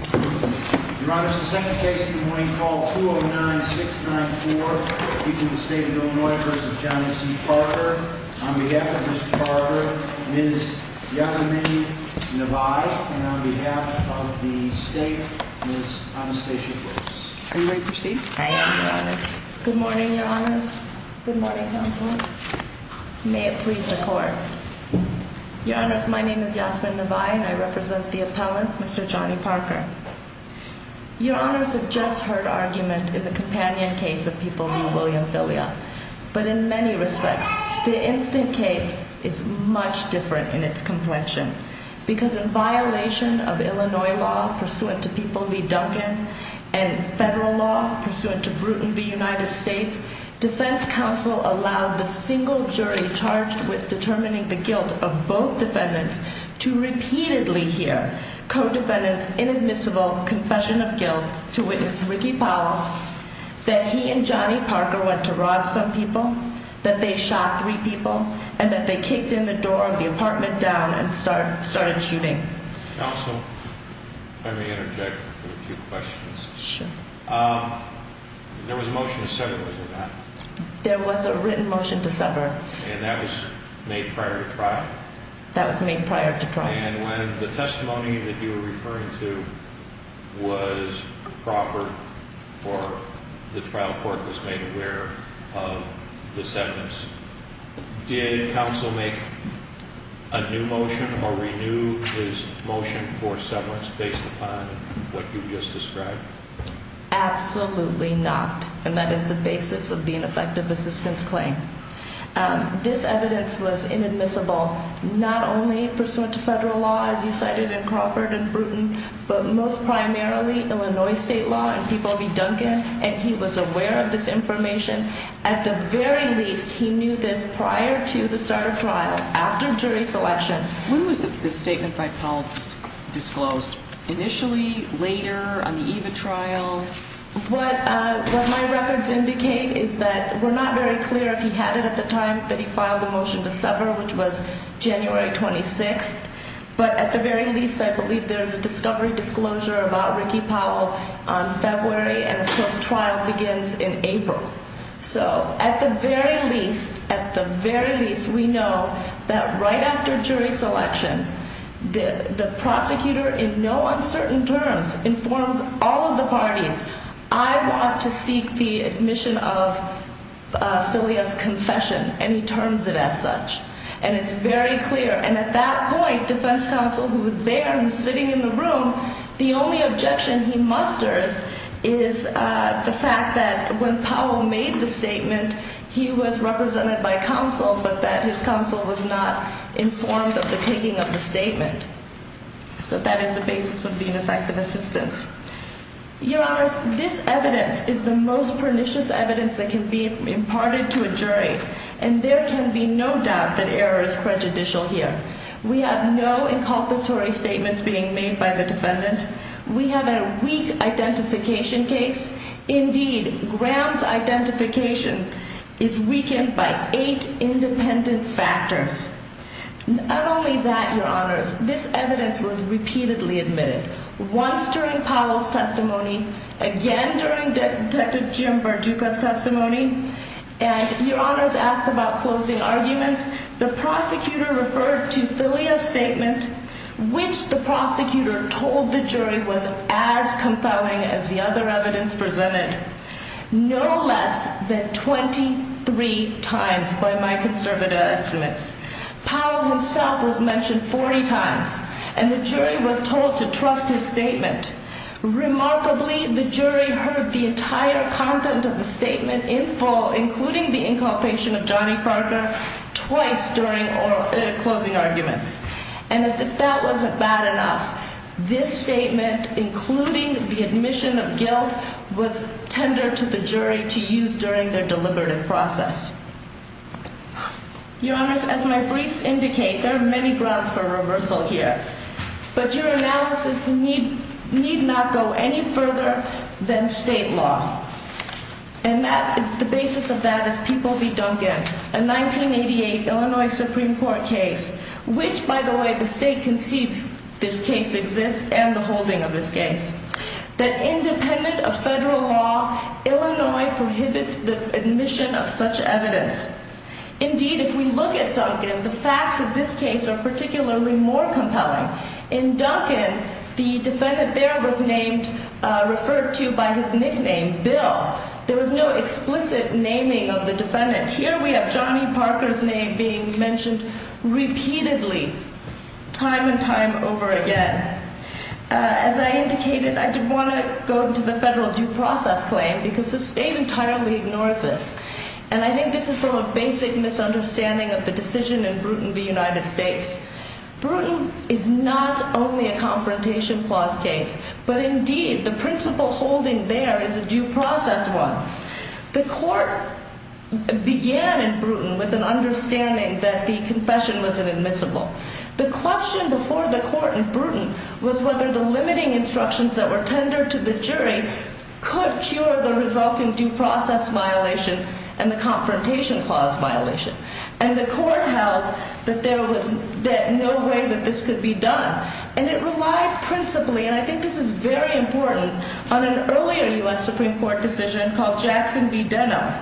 Your Honor, it's the second case of the morning, call 209-694. People of the State of Illinois v. Johnny C. Parker. On behalf of Mr. Parker, Ms. Yasmin Nevaeh. And on behalf of the State, Ms. Anastasia Williams. Are you ready to proceed? I am, Your Honor. Good morning, Your Honor. Good morning, Counselor. May it please the Court. Your Honors, my name is Yasmin Nevaeh and I represent the appellant, Mr. Johnny Parker. Your Honors have just heard argument in the companion case of People v. William Filia. But in many respects, the instant case is much different in its complexion. Because in violation of Illinois law, pursuant to People v. Duncan. And federal law, pursuant to Bruton v. United States. Defense counsel allowed the single jury charged with determining the guilt of both defendants. To repeatedly hear co-defendants inadmissible confession of guilt. To witness Ricky Powell. That he and Johnny Parker went to rob some people. That they shot three people. And that they kicked in the door of the apartment down and started shooting. Counsel, if I may interject with a few questions. Sure. There was a motion to sever, was there not? There was a written motion to sever. And that was made prior to trial? That was made prior to trial. And when the testimony that you were referring to was proper. Or the trial court was made aware of the sentence. Did counsel make a new motion or renew his motion for severance based upon what you just described? Absolutely not. And that is the basis of the ineffective assistance claim. This evidence was inadmissible. Not only pursuant to federal law as you cited in Crawford and Bruton. But most primarily Illinois state law and People v. Duncan. And he was aware of this information. At the very least, he knew this prior to the start of trial. After jury selection. When was this statement by Powell disclosed? Initially? Later? On the EVA trial? What my records indicate is that we're not very clear if he had it at the time that he filed the motion to sever. Which was January 26th. But at the very least, I believe there's a discovery disclosure about Ricky Powell on February. And this trial begins in April. So at the very least, at the very least, we know that right after jury selection. The prosecutor in no uncertain terms informs all of the parties. I want to seek the admission of Celia's confession. And he terms it as such. And it's very clear. And at that point, defense counsel who was there and sitting in the room, the only objection he musters is the fact that when Powell made the statement, he was represented by counsel. But that his counsel was not informed of the taking of the statement. So that is the basis of the ineffective assistance. Your honors, this evidence is the most pernicious evidence that can be imparted to a jury. And there can be no doubt that error is prejudicial here. We have no inculpatory statements being made by the defendant. We have a weak identification case. Indeed, Graham's identification is weakened by eight independent factors. Not only that, your honors, this evidence was repeatedly admitted. Once during Powell's testimony. Again during Detective Jim Barduca's testimony. And your honors asked about closing arguments. The prosecutor referred to Celia's statement, which the prosecutor told the jury was as compelling as the other evidence presented. No less than 23 times by my conservative estimates. Powell himself was mentioned 40 times. Remarkably, the jury heard the entire content of the statement in full, including the inculpation of Johnny Parker, twice during closing arguments. And as if that wasn't bad enough, this statement, including the admission of guilt, was tendered to the jury to use during their deliberative process. Your honors, as my briefs indicate, there are many grounds for reversal here. But your analysis need not go any further than state law. And the basis of that is People v. Duncan, a 1988 Illinois Supreme Court case. Which, by the way, the state concedes this case exists and the holding of this case. That independent of federal law, Illinois prohibits the admission of such evidence. Indeed, if we look at Duncan, the facts of this case are particularly more compelling. In Duncan, the defendant there was named, referred to by his nickname, Bill. There was no explicit naming of the defendant. Here we have Johnny Parker's name being mentioned repeatedly, time and time over again. As I indicated, I did want to go to the federal due process claim because the state entirely ignores this. And I think this is from a basic misunderstanding of the decision in Bruton v. United States. Bruton is not only a confrontation clause case, but indeed the principle holding there is a due process one. The court began in Bruton with an understanding that the confession was inadmissible. The question before the court in Bruton was whether the limiting instructions that were tendered to the jury could cure the resulting due process violation and the confrontation clause violation. And the court held that there was no way that this could be done. And it relied principally, and I think this is very important, on an earlier U.S. Supreme Court decision called Jackson v. Denham.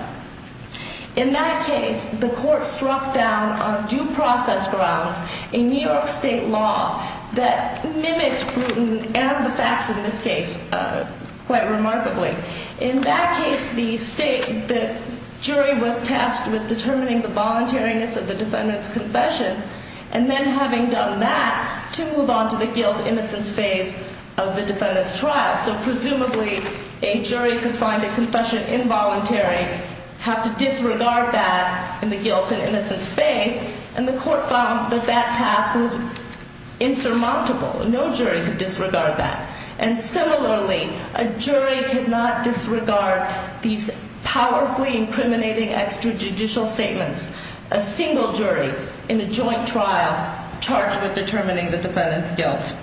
In that case, the court struck down on due process grounds a New York state law that mimicked Bruton and the facts in this case quite remarkably. In that case, the jury was tasked with determining the voluntariness of the defendant's confession and then having done that to move on to the guilt-innocence phase of the defendant's trial. So presumably, a jury could find a confession involuntary, have to disregard that in the guilt-and-innocence phase, and the court found that that task was insurmountable. No jury could disregard that. And similarly, a jury could not disregard these powerfully incriminating extrajudicial statements. A single jury in a joint trial charged with determining the defendant's guilt.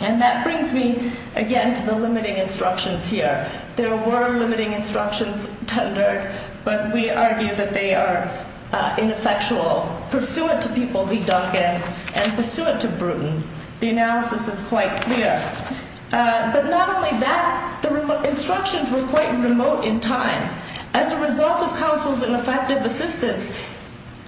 And that brings me again to the limiting instructions here. There were limiting instructions tendered, but we argue that they are ineffectual. Pursuant to people v. Duncan and pursuant to Bruton, the analysis is quite clear. But not only that, the instructions were quite remote in time. As a result of counsel's ineffective assistance,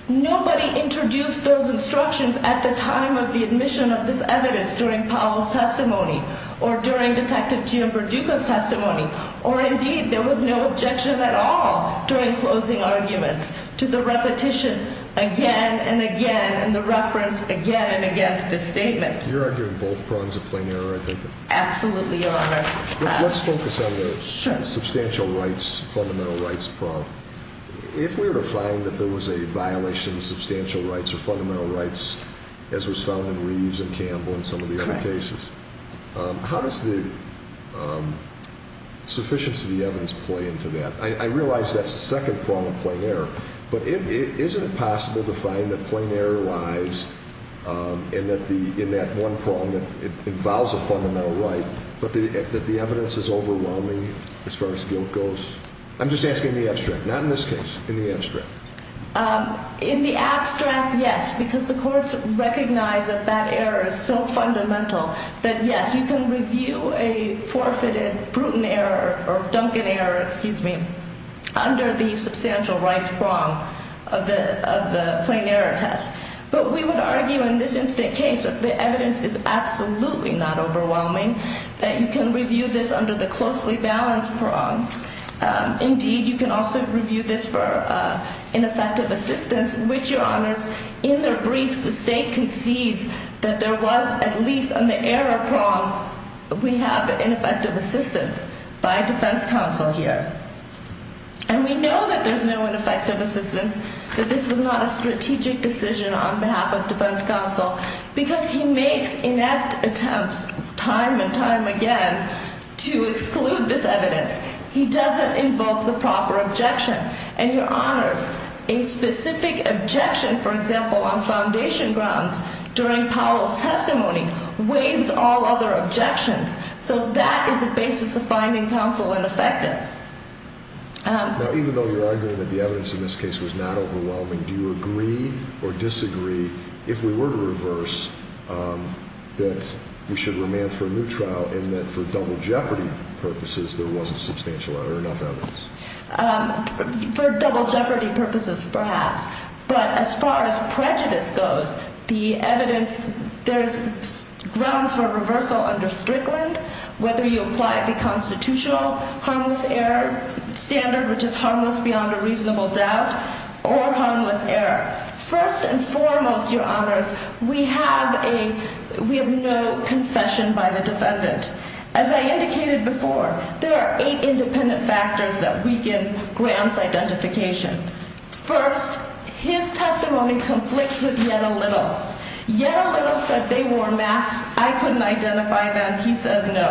nobody introduced those instructions at the time of the admission of this evidence, during Powell's testimony or during Detective Jim Perdueco's testimony. Or indeed, there was no objection at all during closing arguments to the repetition again and again and the reference again and again to this statement. You're arguing both prongs of plain error, I think. Absolutely, Your Honor. Let's focus on the substantial rights, fundamental rights prong. If we were to find that there was a violation of substantial rights or fundamental rights, as was found in Reeves and Campbell and some of the other cases, how does the sufficiency of the evidence play into that? I realize that's the second prong of plain error. But isn't it possible to find that plain error lies in that one prong that involves a fundamental right, but that the evidence is overwhelming as far as guilt goes? I'm just asking in the abstract, not in this case, in the abstract. In the abstract, yes, because the courts recognize that that error is so fundamental that, yes, you can review a forfeited Bruton error or Duncan error, excuse me, under the substantial rights prong of the plain error test. But we would argue in this instant case that the evidence is absolutely not overwhelming, that you can review this under the closely balanced prong. Indeed, you can also review this for ineffective assistance, which, Your Honors, in their briefs, the state concedes that there was at least on the error prong, we have ineffective assistance by defense counsel here. And we know that there's no ineffective assistance, that this was not a strategic decision on behalf of defense counsel, because he makes inept attempts time and time again to exclude this evidence. He doesn't invoke the proper objection. And, Your Honors, a specific objection, for example, on foundation grounds during Powell's testimony, waives all other objections. So that is a basis of finding counsel ineffective. Now, even though you're arguing that the evidence in this case was not overwhelming, do you agree or disagree, if we were to reverse, that we should remand for a new trial and that for double jeopardy purposes there wasn't enough evidence? For double jeopardy purposes, perhaps. But as far as prejudice goes, the evidence, there's grounds for reversal under Strickland, whether you apply the constitutional harmless error standard, which is harmless beyond a reasonable doubt, or harmless error. First and foremost, Your Honors, we have no confession by the defendant. As I indicated before, there are eight independent factors that weaken Graham's identification. First, his testimony conflicts with yet a little. Yet a little said they wore masks. I couldn't identify them. He says no.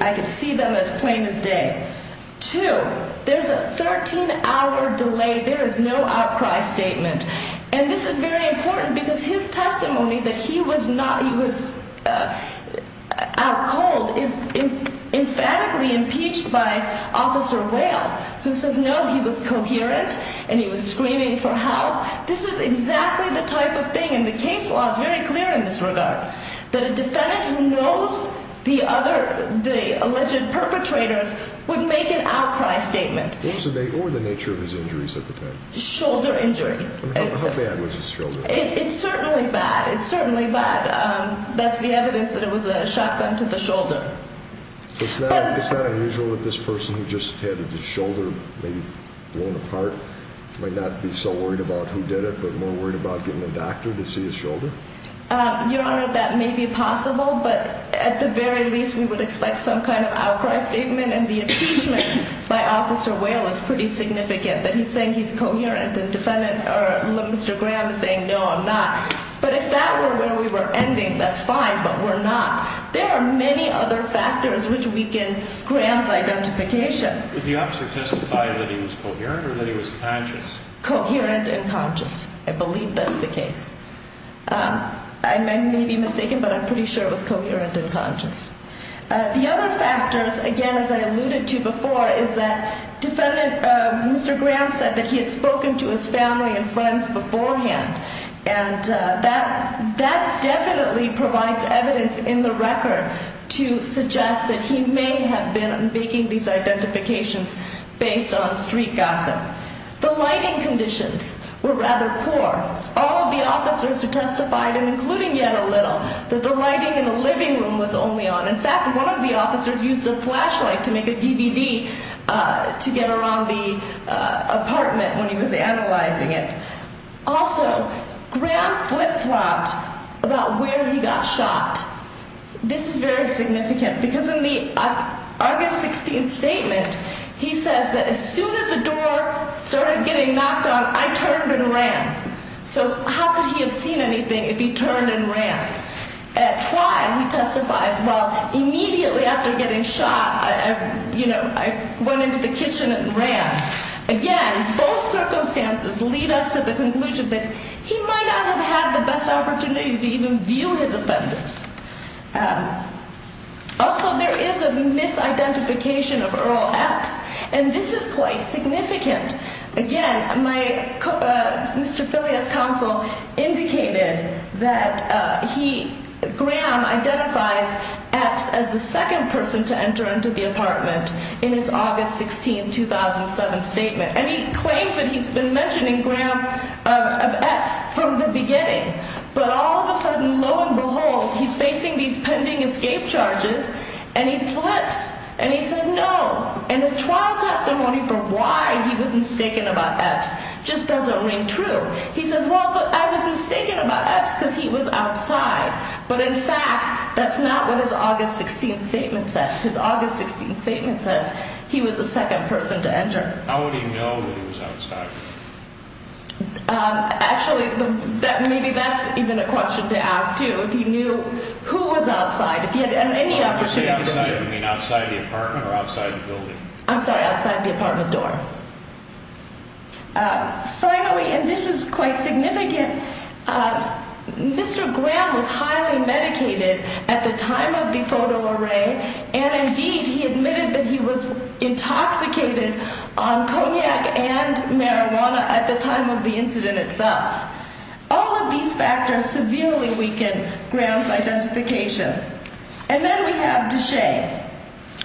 I could see them as plain as day. Two, there's a 13-hour delay. There is no outcry statement. And this is very important because his testimony that he was out cold is emphatically impeached by Officer Whale, who says no, he was coherent and he was screaming for help. This is exactly the type of thing, and the case law is very clear in this regard, that a defendant who knows the other, the alleged perpetrators, would make an outcry statement. Or the nature of his injuries at the time. Shoulder injury. How bad was his shoulder? It's certainly bad. It's certainly bad. That's the evidence that it was a shotgun to the shoulder. It's not unusual that this person who just had his shoulder maybe blown apart might not be so worried about who did it, but more worried about getting a doctor to see his shoulder? Your Honor, that may be possible, but at the very least we would expect some kind of outcry statement. And the impeachment by Officer Whale is pretty significant. That he's saying he's coherent and Mr. Graham is saying no, I'm not. But if that were where we were ending, that's fine, but we're not. There are many other factors which weaken Graham's identification. Did the officer testify that he was coherent or that he was conscious? Coherent and conscious. I believe that's the case. I may be mistaken, but I'm pretty sure it was coherent and conscious. The other factors, again, as I alluded to before, is that Mr. Graham said that he had spoken to his family and friends beforehand. And that definitely provides evidence in the record to suggest that he may have been making these identifications based on street gossip. The lighting conditions were rather poor. All of the officers have testified, including yet a little, that the lighting in the living room was only on. In fact, one of the officers used a flashlight to make a DVD to get around the apartment when he was analyzing it. Also, Graham flip-flopped about where he got shot. This is very significant because in the August 16th statement, he says that as soon as the door started getting knocked on, I turned and ran. So how could he have seen anything if he turned and ran? At twilight, he testifies, well, immediately after getting shot, you know, I went into the kitchen and ran. Again, both circumstances lead us to the conclusion that he might not have had the best opportunity to even view his offenders. Also, there is a misidentification of Earl X, and this is quite significant. Again, Mr. Filia's counsel indicated that he, Graham, identifies X as the second person to enter into the apartment in his August 16, 2007 statement. And he claims that he's been mentioning Graham of X from the beginning. But all of a sudden, lo and behold, he's facing these pending escape charges, and he flips, and he says no. And his trial testimony for why he was mistaken about X just doesn't ring true. He says, well, I was mistaken about X because he was outside. But in fact, that's not what his August 16th statement says. His August 16th statement says he was the second person to enter. How would he know that he was outside? Actually, maybe that's even a question to ask, too, if he knew who was outside, if he had any opportunity. Outside, you mean outside the apartment or outside the building? I'm sorry, outside the apartment door. Finally, and this is quite significant, Mr. Graham was highly medicated at the time of the photo array, and indeed he admitted that he was intoxicated on cognac and marijuana at the time of the incident itself. All of these factors severely weaken Graham's identification. And then we have Deshea.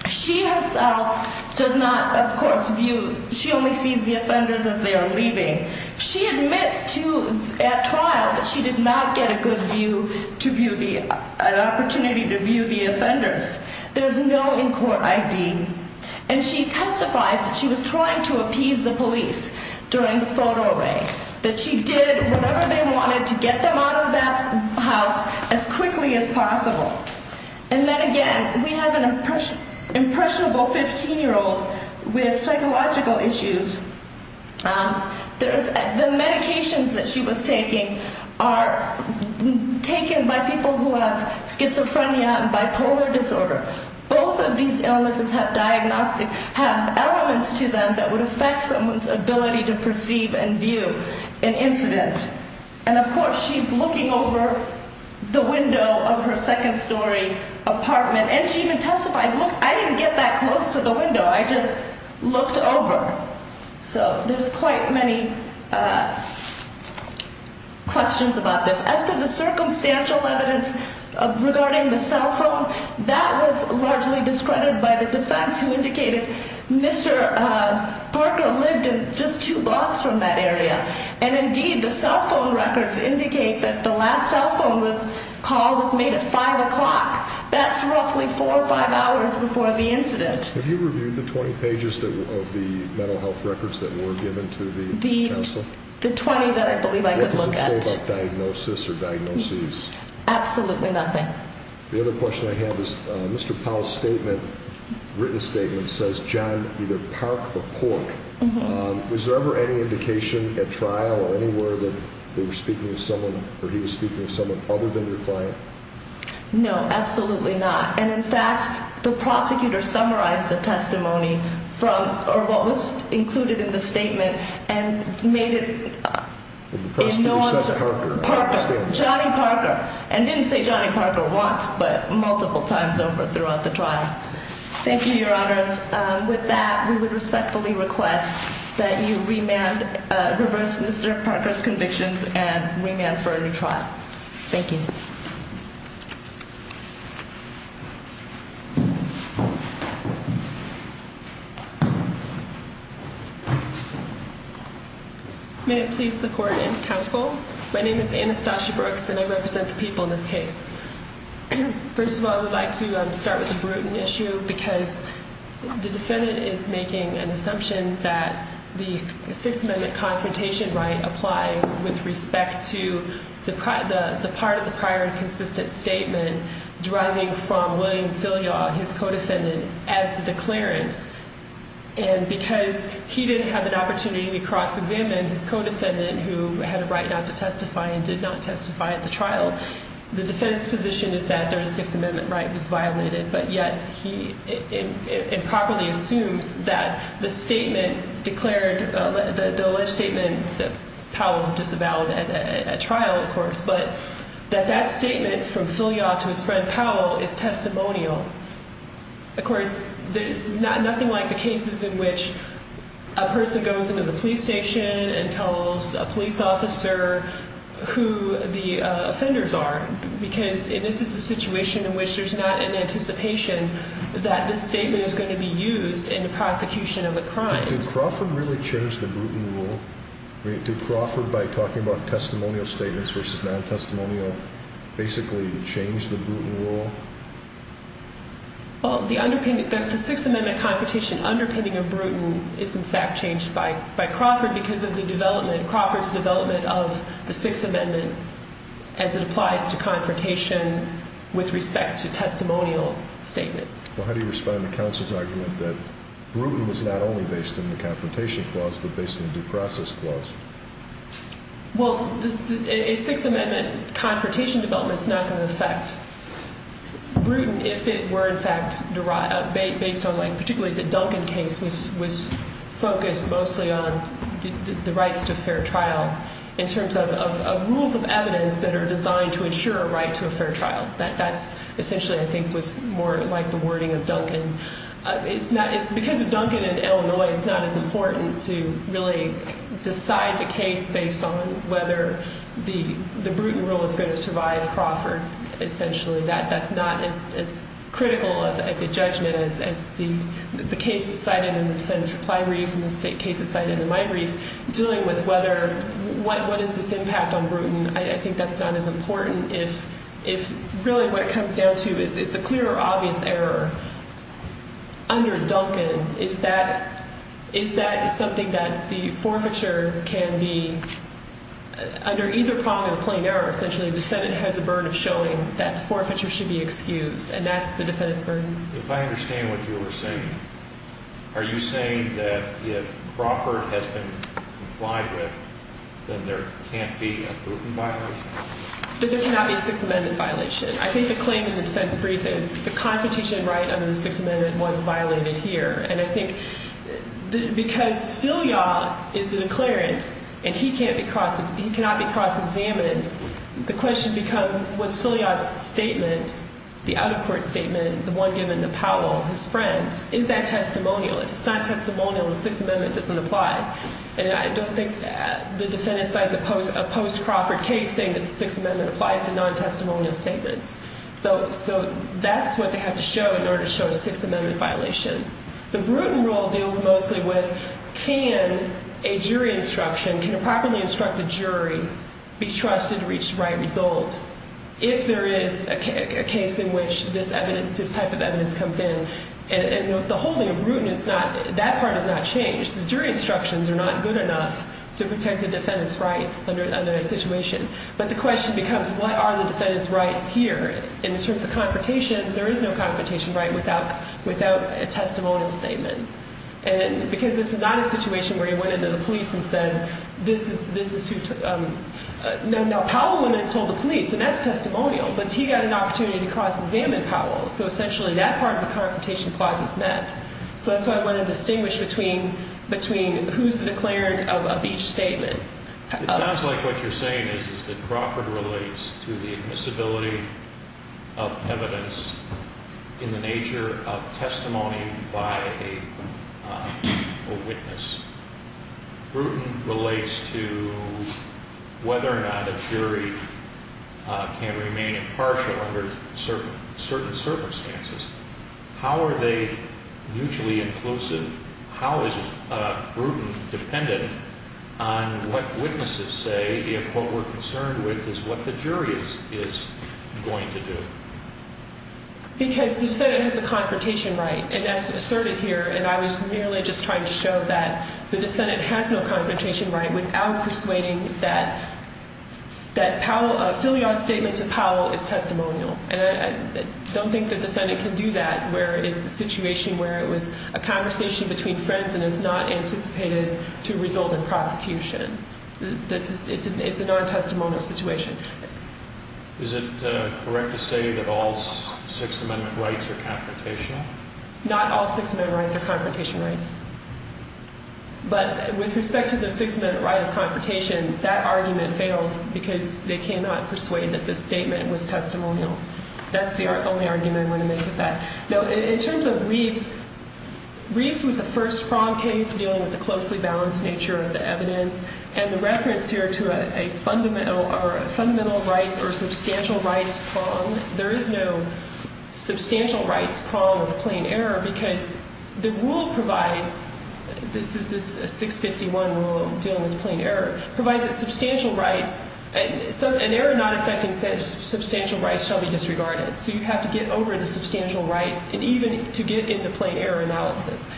She herself does not, of course, view, she only sees the offenders as they are leaving. She admits at trial that she did not get a good view, an opportunity to view the offenders. There's no in-court ID. And she testifies that she was trying to appease the police during the photo array, that she did whatever they wanted to get them out of that house as quickly as possible. And then again, we have an impressionable 15-year-old with psychological issues. The medications that she was taking are taken by people who have schizophrenia and bipolar disorder. Both of these illnesses have diagnostic, have elements to them that would affect someone's ability to perceive and view an incident. And of course, she's looking over the window of her second-story apartment, and she even testified, look, I didn't get that close to the window, I just looked over. So there's quite many questions about this. As to the circumstantial evidence regarding the cell phone, that was largely discredited by the defense who indicated Mr. Parker lived in just two blocks from that area. And indeed, the cell phone records indicate that the last cell phone call was made at 5 o'clock. That's roughly four or five hours before the incident. Have you reviewed the 20 pages of the mental health records that were given to the counsel? The 20 that I believe I could look at. What did they say about diagnosis or diagnoses? Absolutely nothing. The other question I have is Mr. Powell's statement, written statement, says, John, either park or pork. Was there ever any indication at trial or anywhere that they were speaking of someone or he was speaking of someone other than your client? No, absolutely not. And in fact, the prosecutor summarized the testimony from or what was included in the statement and made it. You said Parker. Johnny Parker. And didn't say Johnny Parker once, but multiple times over throughout the trial. Thank you, Your Honors. With that, we would respectfully request that you remand, reverse Mr. Parker's convictions and remand for a new trial. Thank you. Thank you. May it please the court and counsel, my name is Anastasia Brooks and I represent the people in this case. First of all, I would like to start with the Bruton issue because the defendant is making an assumption that the Sixth Amendment his co-defendant as the declarant. And because he didn't have an opportunity to cross examine his co-defendant who had a right not to testify and did not testify at the trial, the defendant's position is that their Sixth Amendment right was violated. But yet he improperly assumes that the statement declared the alleged statement that Powell's disavowed at trial, of course, but that that statement from filial to his friend Powell is testimonial. Of course, there's nothing like the cases in which a person goes into the police station and tells a police officer who the offenders are, because this is a situation in which there's not an anticipation that this statement is going to be used in the prosecution of a crime. Did Crawford really change the Bruton rule? Did Crawford, by talking about testimonial statements versus non-testimonial, basically change the Bruton rule? Well, the Sixth Amendment confrontation underpinning of Bruton is in fact changed by Crawford because of the development, Crawford's development of the Sixth Amendment as it applies to confrontation with respect to testimonial statements. Well, how do you respond to counsel's argument that Bruton was not only based in the Confrontation Clause but based in the Due Process Clause? Well, a Sixth Amendment confrontation development is not going to affect Bruton if it were in fact based on, like particularly the Duncan case was focused mostly on the rights to a fair trial in terms of rules of evidence that are designed to ensure a right to a fair trial. That's essentially, I think, was more like the wording of Duncan. It's because of Duncan in Illinois, it's not as important to really decide the case based on whether the Bruton rule is going to survive Crawford. Essentially, that's not as critical of a judgment as the cases cited in the defense reply brief and the cases cited in my brief, dealing with what is this impact on Bruton. I think that's not as important. If really what it comes down to is a clear or obvious error under Duncan, is that something that the forfeiture can be under either prong of a plain error? Essentially, the defendant has a burden of showing that the forfeiture should be excused, and that's the defendant's burden. If I understand what you are saying, are you saying that if Crawford has been complied with, then there can't be a Bruton violation? There cannot be a Sixth Amendment violation. I think the claim in the defense brief is the competition right under the Sixth Amendment was violated here. And I think because Filia is the declarant and he cannot be cross-examined, the question becomes was Filia's statement, the out-of-court statement, the one given to Powell, his friend, is that testimonial? If it's not testimonial, the Sixth Amendment doesn't apply. And I don't think the defendant cites a post-Crawford case saying that the Sixth Amendment applies to non-testimonial statements. So that's what they have to show in order to show a Sixth Amendment violation. The Bruton rule deals mostly with can a jury instruction, can a properly instructed jury be trusted to reach the right result? If there is a case in which this type of evidence comes in, and the holding of Bruton is not, that part is not changed. The jury instructions are not good enough to protect the defendant's rights under a situation. But the question becomes what are the defendant's rights here? In terms of confrontation, there is no confrontation right without a testimonial statement. And because this is not a situation where you went into the police and said this is who took, now Powell went and told the police and that's testimonial. But he got an opportunity to cross-examine Powell. So essentially that part of the confrontation clause is met. So that's why I want to distinguish between who's the declarant of each statement. It sounds like what you're saying is that Crawford relates to the admissibility of evidence in the nature of testimony by a witness. Bruton relates to whether or not a jury can remain impartial under certain circumstances. How are they mutually inclusive? How is Bruton dependent on what witnesses say if what we're concerned with is what the jury is going to do? Because the defendant has a confrontation right. And that's asserted here. And I was merely just trying to show that the defendant has no confrontation right without persuading that Powell, a filial statement to Powell is testimonial. And I don't think the defendant can do that where it's a situation where it was a conversation between friends and is not anticipated to result in prosecution. It's a non-testimonial situation. Is it correct to say that all Sixth Amendment rights are confrontational? Not all Sixth Amendment rights are confrontation rights. But with respect to the Sixth Amendment right of confrontation, that argument fails because they cannot persuade that the statement was testimonial. That's the only argument I want to make with that. Now, in terms of Reeves, Reeves was the first prong case dealing with the closely balanced nature of the evidence. And the reference here to a fundamental rights or substantial rights prong, there is no substantial rights prong of plain error. Because the rule provides, this is a 651 rule dealing with plain error, provides a substantial rights. An error not affecting substantial rights shall be disregarded. So you have to get over the substantial rights and even to get into plain error analysis.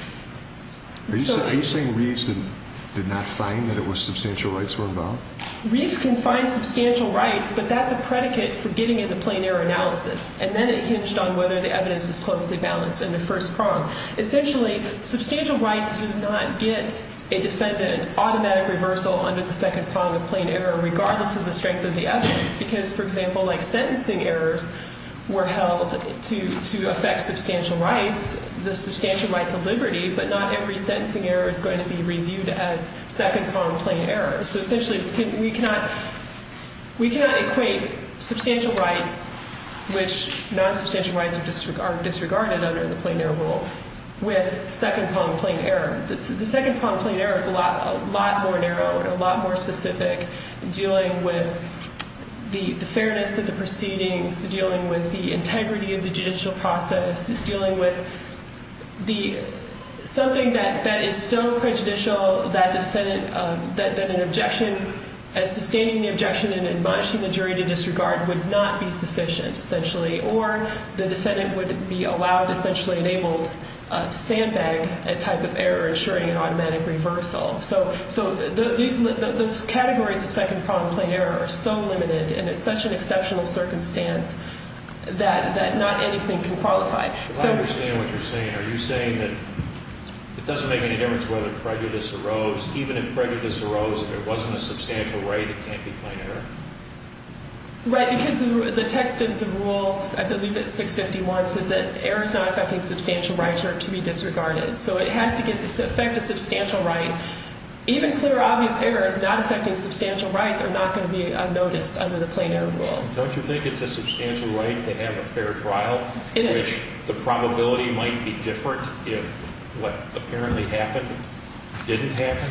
Are you saying Reeves did not find that it was substantial rights were involved? Reeves can find substantial rights, but that's a predicate for getting into plain error analysis. And then it hinged on whether the evidence was closely balanced in the first prong. Essentially, substantial rights does not get a defendant automatic reversal under the second prong of plain error, regardless of the strength of the evidence. Because, for example, like sentencing errors were held to affect substantial rights, the substantial right to liberty, but not every sentencing error is going to be reviewed as second prong plain error. So essentially, we cannot equate substantial rights, which non-substantial rights are disregarded under the plain error rule, with second prong plain error. The second prong plain error is a lot more narrowed, a lot more specific, dealing with the fairness of the proceedings, dealing with the integrity of the judicial process, dealing with something that is so prejudicial that an objection, as sustaining the objection and admonishing the jury to disregard, would not be sufficient, essentially. Or the defendant would be allowed, essentially enabled, to sandbag a type of error, ensuring an automatic reversal. So those categories of second prong plain error are so limited, and it's such an exceptional circumstance, that not anything can qualify. I understand what you're saying. Are you saying that it doesn't make any difference whether prejudice arose? Even if prejudice arose, if it wasn't a substantial right, it can't be plain error? Right, because the text of the rule, I believe it's 651, says that error is not affecting substantial rights or to be disregarded. So it has to affect a substantial right. Even clear, obvious errors not affecting substantial rights are not going to be unnoticed under the plain error rule. Don't you think it's a substantial right to have a fair trial? It is. Which the probability might be different if what apparently happened didn't happen?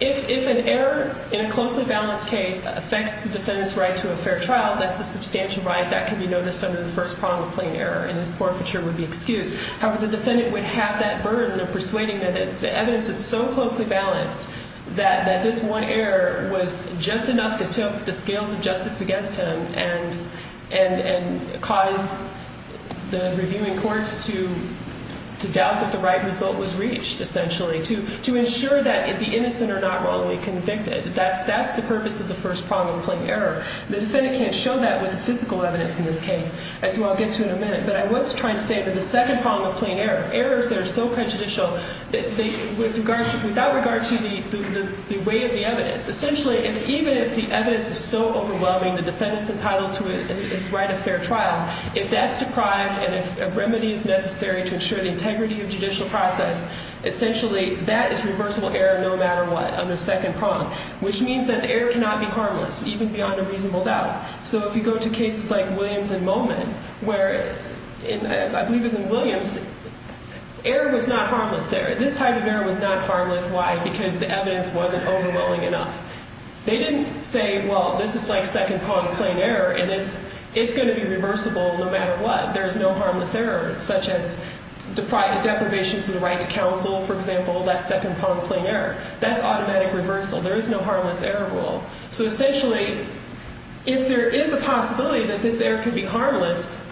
If an error in a closely balanced case affects the defendant's right to a fair trial, that's a substantial right that can be noticed under the first prong of plain error, and this forfeiture would be excused. However, the defendant would have that burden of persuading that the evidence is so closely balanced that this one error was just enough to tilt the scales of justice against him and cause the reviewing courts to doubt that the right result was reached, essentially, to ensure that the innocent are not wrongly convicted. That's the purpose of the first prong of plain error. The defendant can't show that with the physical evidence in this case, as we'll get to in a minute. But I was trying to say that the second prong of plain error, errors that are so prejudicial without regard to the weight of the evidence. Essentially, even if the evidence is so overwhelming, the defendant's entitled to his right of fair trial, if that's deprived and if a remedy is necessary to ensure the integrity of judicial process, essentially, that is reversible error no matter what under the second prong, which means that the error cannot be harmless, even beyond a reasonable doubt. So if you go to cases like Williams and Momin, where I believe it was in Williams, error was not harmless there. This type of error was not harmless. Why? Because the evidence wasn't overwhelming enough. They didn't say, well, this is like second prong of plain error, and it's going to be reversible no matter what. There is no harmless error, such as deprivation to the right to counsel, for example, that's second prong of plain error. That's automatic reversal. There is no harmless error rule. So essentially, if there is a possibility that this error could be harmless,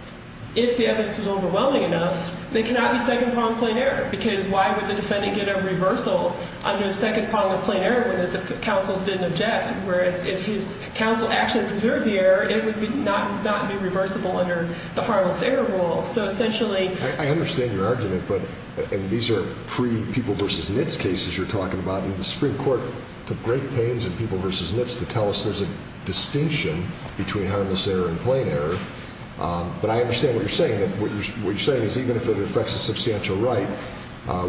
if the evidence was overwhelming enough, they cannot be second prong plain error, because why would the defendant get a reversal under the second prong of plain error when the counsels didn't object, whereas if his counsel actually preserved the error, it would not be reversible under the harmless error rule. I understand your argument, but these are pre-People v. Nitz cases you're talking about. And the Supreme Court took great pains in People v. Nitz to tell us there's a distinction between harmless error and plain error. But I understand what you're saying, that what you're saying is even if it affects a substantial right,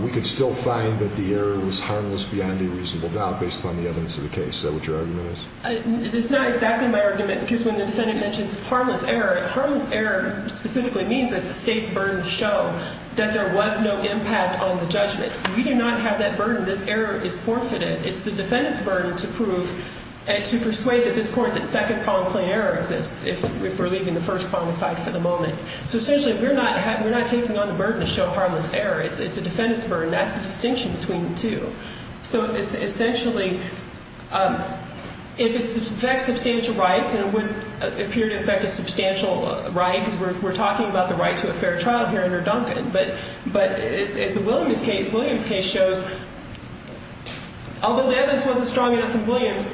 we could still find that the error was harmless beyond a reasonable doubt based upon the evidence of the case. Is that what your argument is? It's not exactly my argument. Because when the defendant mentions harmless error, harmless error specifically means that the state's burden show that there was no impact on the judgment. We do not have that burden. This error is forfeited. It's the defendant's burden to prove and to persuade this court that second prong plain error exists if we're leaving the first prong aside for the moment. So essentially, we're not taking on the burden to show harmless error. It's the defendant's burden. That's the distinction between the two. So essentially, if it affects substantial rights, it would appear to affect a substantial right because we're talking about the right to a fair trial here under Duncan. But as the Williams case shows, although the evidence wasn't strong enough in Williams,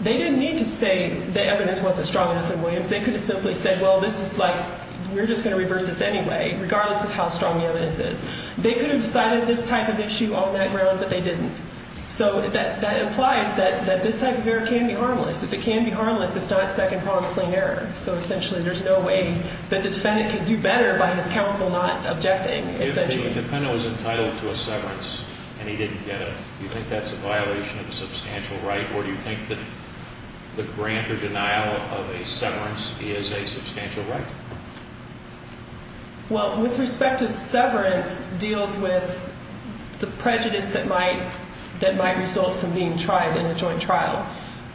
they didn't need to say the evidence wasn't strong enough in Williams. They could have simply said, well, this is like, we're just going to reverse this anyway, regardless of how strong the evidence is. They could have decided this type of issue on that ground, but they didn't. So that implies that this type of error can be harmless. If it can be harmless, it's not second prong plain error. So essentially, there's no way that the defendant can do better by his counsel not objecting. If the defendant was entitled to a severance and he didn't get it, do you think that's a violation of a substantial right? Or do you think that the grant or denial of a severance is a substantial right? Well, with respect to severance, it deals with the prejudice that might result from being tried in a joint trial,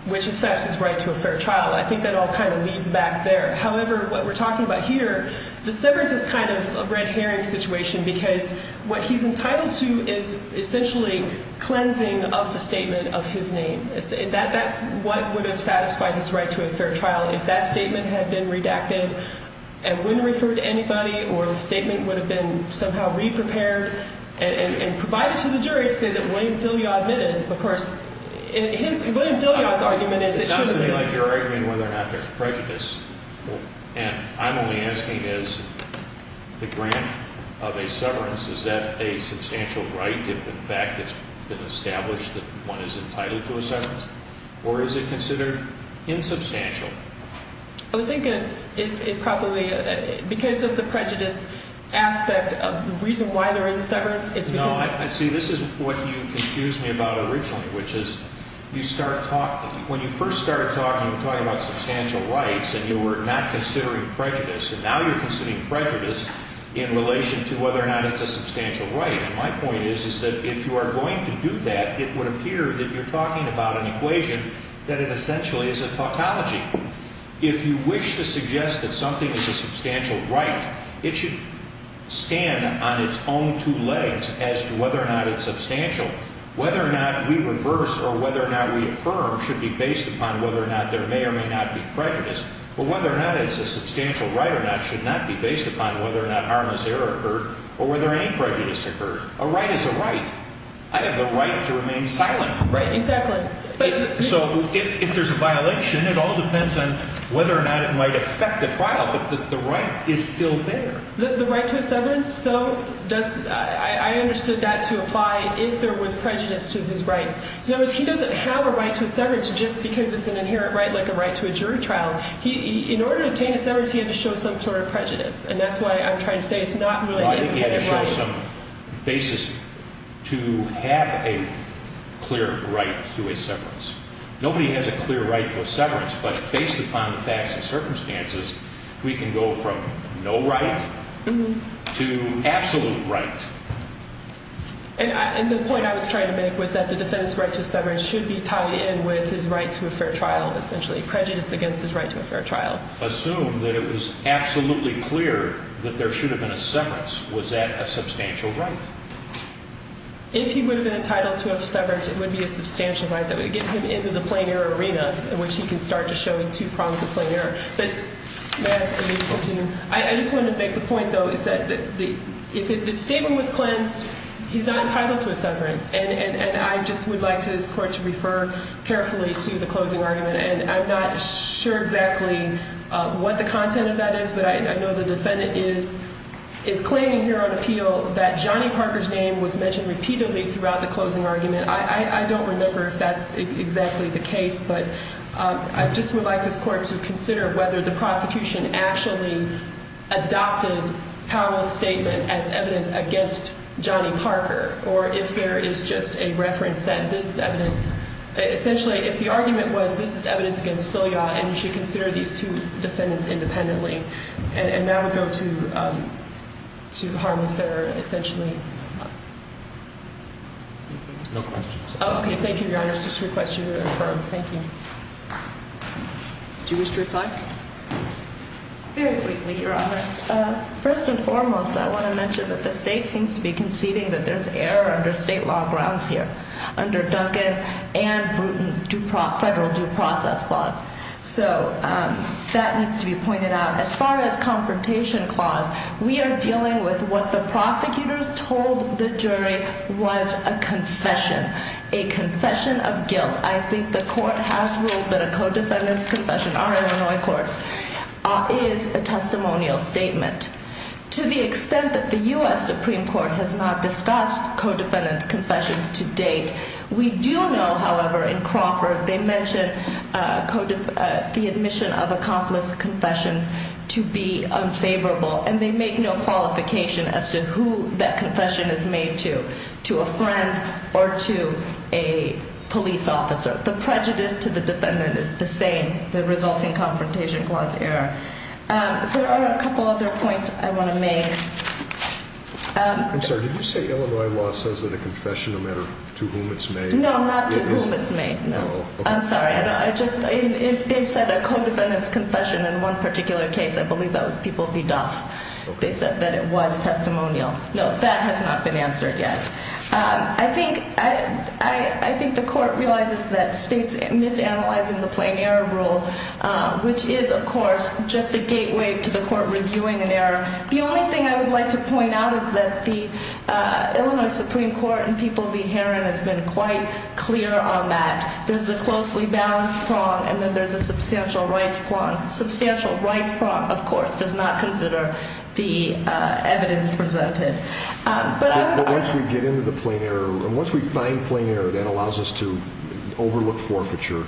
which affects his right to a fair trial. I think that all kind of leads back there. However, what we're talking about here, the severance is kind of a red herring situation because what he's entitled to is essentially cleansing of the statement of his name. That's what would have satisfied his right to a fair trial. If that statement had been redacted and wouldn't have referred to anybody or the statement would have been somehow reprepared and provided to the jury to say that William Filliard admitted. Of course, William Filliard's argument is that it shouldn't be. It doesn't look like you're arguing whether or not there's prejudice. And I'm only asking is the grant of a severance, is that a substantial right if in fact it's been established that one is entitled to a severance? Or is it considered insubstantial? I think it's probably because of the prejudice aspect of the reason why there is a severance. See, this is what you confused me about originally, which is you start talking. When you first started talking, you were talking about substantial rights and you were not considering prejudice. And now you're considering prejudice in relation to whether or not it's a substantial right. And my point is, is that if you are going to do that, it would appear that you're talking about an equation that it essentially is a tautology. If you wish to suggest that something is a substantial right, it should stand on its own two legs as to whether or not it's substantial. Whether or not we reverse or whether or not we affirm should be based upon whether or not there may or may not be prejudice. But whether or not it's a substantial right or not should not be based upon whether or not harmless error occurred or whether any prejudice occurred. A right is a right. I have the right to remain silent. Right, exactly. So if there's a violation, it all depends on whether or not it might affect the trial. But the right is still there. The right to a severance, though, I understood that to apply if there was prejudice to his rights. In other words, he doesn't have a right to a severance just because it's an inherent right like a right to a jury trial. In order to obtain a severance, he had to show some sort of prejudice. And that's why I'm trying to say it's not really an inherent right. He had to show some basis to have a clear right to a severance. Nobody has a clear right to a severance, but based upon the facts and circumstances, we can go from no right to absolute right. And the point I was trying to make was that the defendant's right to a severance should be tied in with his right to a fair trial, essentially prejudice against his right to a fair trial. Assume that it was absolutely clear that there should have been a severance. Was that a substantial right? If he would have been entitled to a severance, it would be a substantial right that would get him into the plain error arena in which he can start to show two prongs of plain error. But, Matt, I just want to make the point, though, is that if the statement was cleansed, he's not entitled to a severance. And I just would like this Court to refer carefully to the closing argument. And I'm not sure exactly what the content of that is, but I know the defendant is claiming here on appeal that Johnny Parker's name was mentioned repeatedly throughout the closing argument. I don't remember if that's exactly the case, but I just would like this Court to consider whether the prosecution actually adopted Powell's statement as evidence against Johnny Parker or if there is just a reference that this is evidence. Essentially, if the argument was this is evidence against Filiot and you should consider these two defendants independently. And now we go to Harman's error, essentially. No questions. Okay. Thank you, Your Honor. I just request you to affirm. Thank you. Would you wish to reply? Very quickly, Your Honor. First and foremost, I want to mention that the state seems to be conceding that there's error under state law grounds here under Duncan and Bruton federal due process clause. So that needs to be pointed out. As far as confrontation clause, we are dealing with what the prosecutors told the jury was a confession, a confession of guilt. I think the Court has ruled that a co-defendant's confession, our Illinois courts, is a testimonial statement. To the extent that the U.S. Supreme Court has not discussed co-defendant's confessions to date, we do know, however, in Crawford, they mentioned the admission of accomplice confessions to be unfavorable. And they make no qualification as to who that confession is made to, to a friend or to a police officer. The prejudice to the defendant is the same, the resulting confrontation clause error. There are a couple other points I want to make. I'm sorry. Did you say Illinois law says that a confession, no matter to whom it's made, is? No, not to whom it's made. No. I'm sorry. They said a co-defendant's confession in one particular case. I believe that was People v. Duff. They said that it was testimonial. No, that has not been answered yet. I think the Court realizes that states misanalyze the plain error rule, which is, of course, just a gateway to the Court reviewing an error. The only thing I would like to point out is that the Illinois Supreme Court and People v. Herron has been quite clear on that. There's a closely balanced prong, and then there's a substantial rights prong. Substantial rights prong, of course, does not consider the evidence presented. But once we get into the plain error, and once we find plain error that allows us to overlook forfeiture,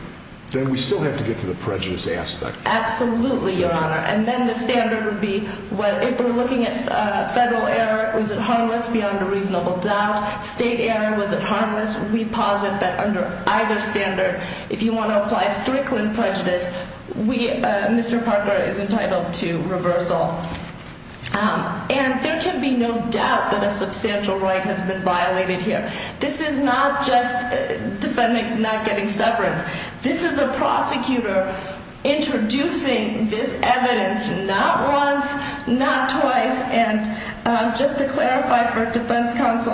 then we still have to get to the prejudice aspect. Absolutely, Your Honor. And then the standard would be, if we're looking at federal error, was it harmless beyond a reasonable doubt? State error, was it harmless? We posit that under either standard, if you want to apply Strickland prejudice, Mr. Parker is entitled to reversal. And there can be no doubt that a substantial right has been violated here. This is not just defendants not getting severance. This is a prosecutor introducing this evidence not once, not twice. And just to clarify for defense counsel,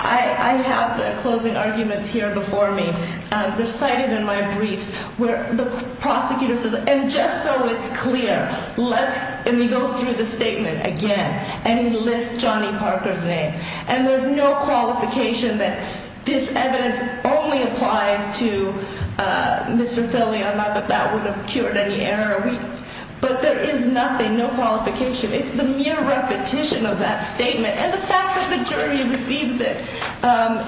I have the closing arguments here before me. They're cited in my briefs where the prosecutor says, and just so it's clear, let's – and he goes through the statement again. And he lists Johnny Parker's name. And there's no qualification that this evidence only applies to Mr. Philly. I'm not that that would have cured any error. But there is nothing, no qualification. It's the mere repetition of that statement and the fact that the jury receives it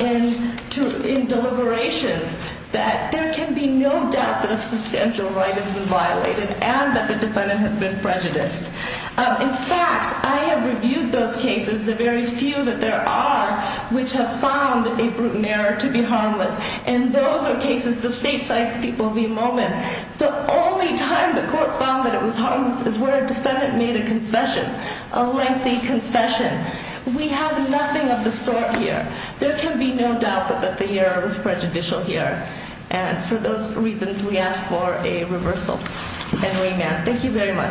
in deliberations, that there can be no doubt that a substantial right has been violated and that the defendant has been prejudiced. In fact, I have reviewed those cases, the very few that there are, which have found a brutal error to be harmless. And those are cases the state cites people of the moment. The only time the court found that it was harmless is where a defendant made a confession, a lengthy concession. We have nothing of the sort here. There can be no doubt that the error was prejudicial here. And for those reasons, we ask for a reversal and remand. Thank you very much.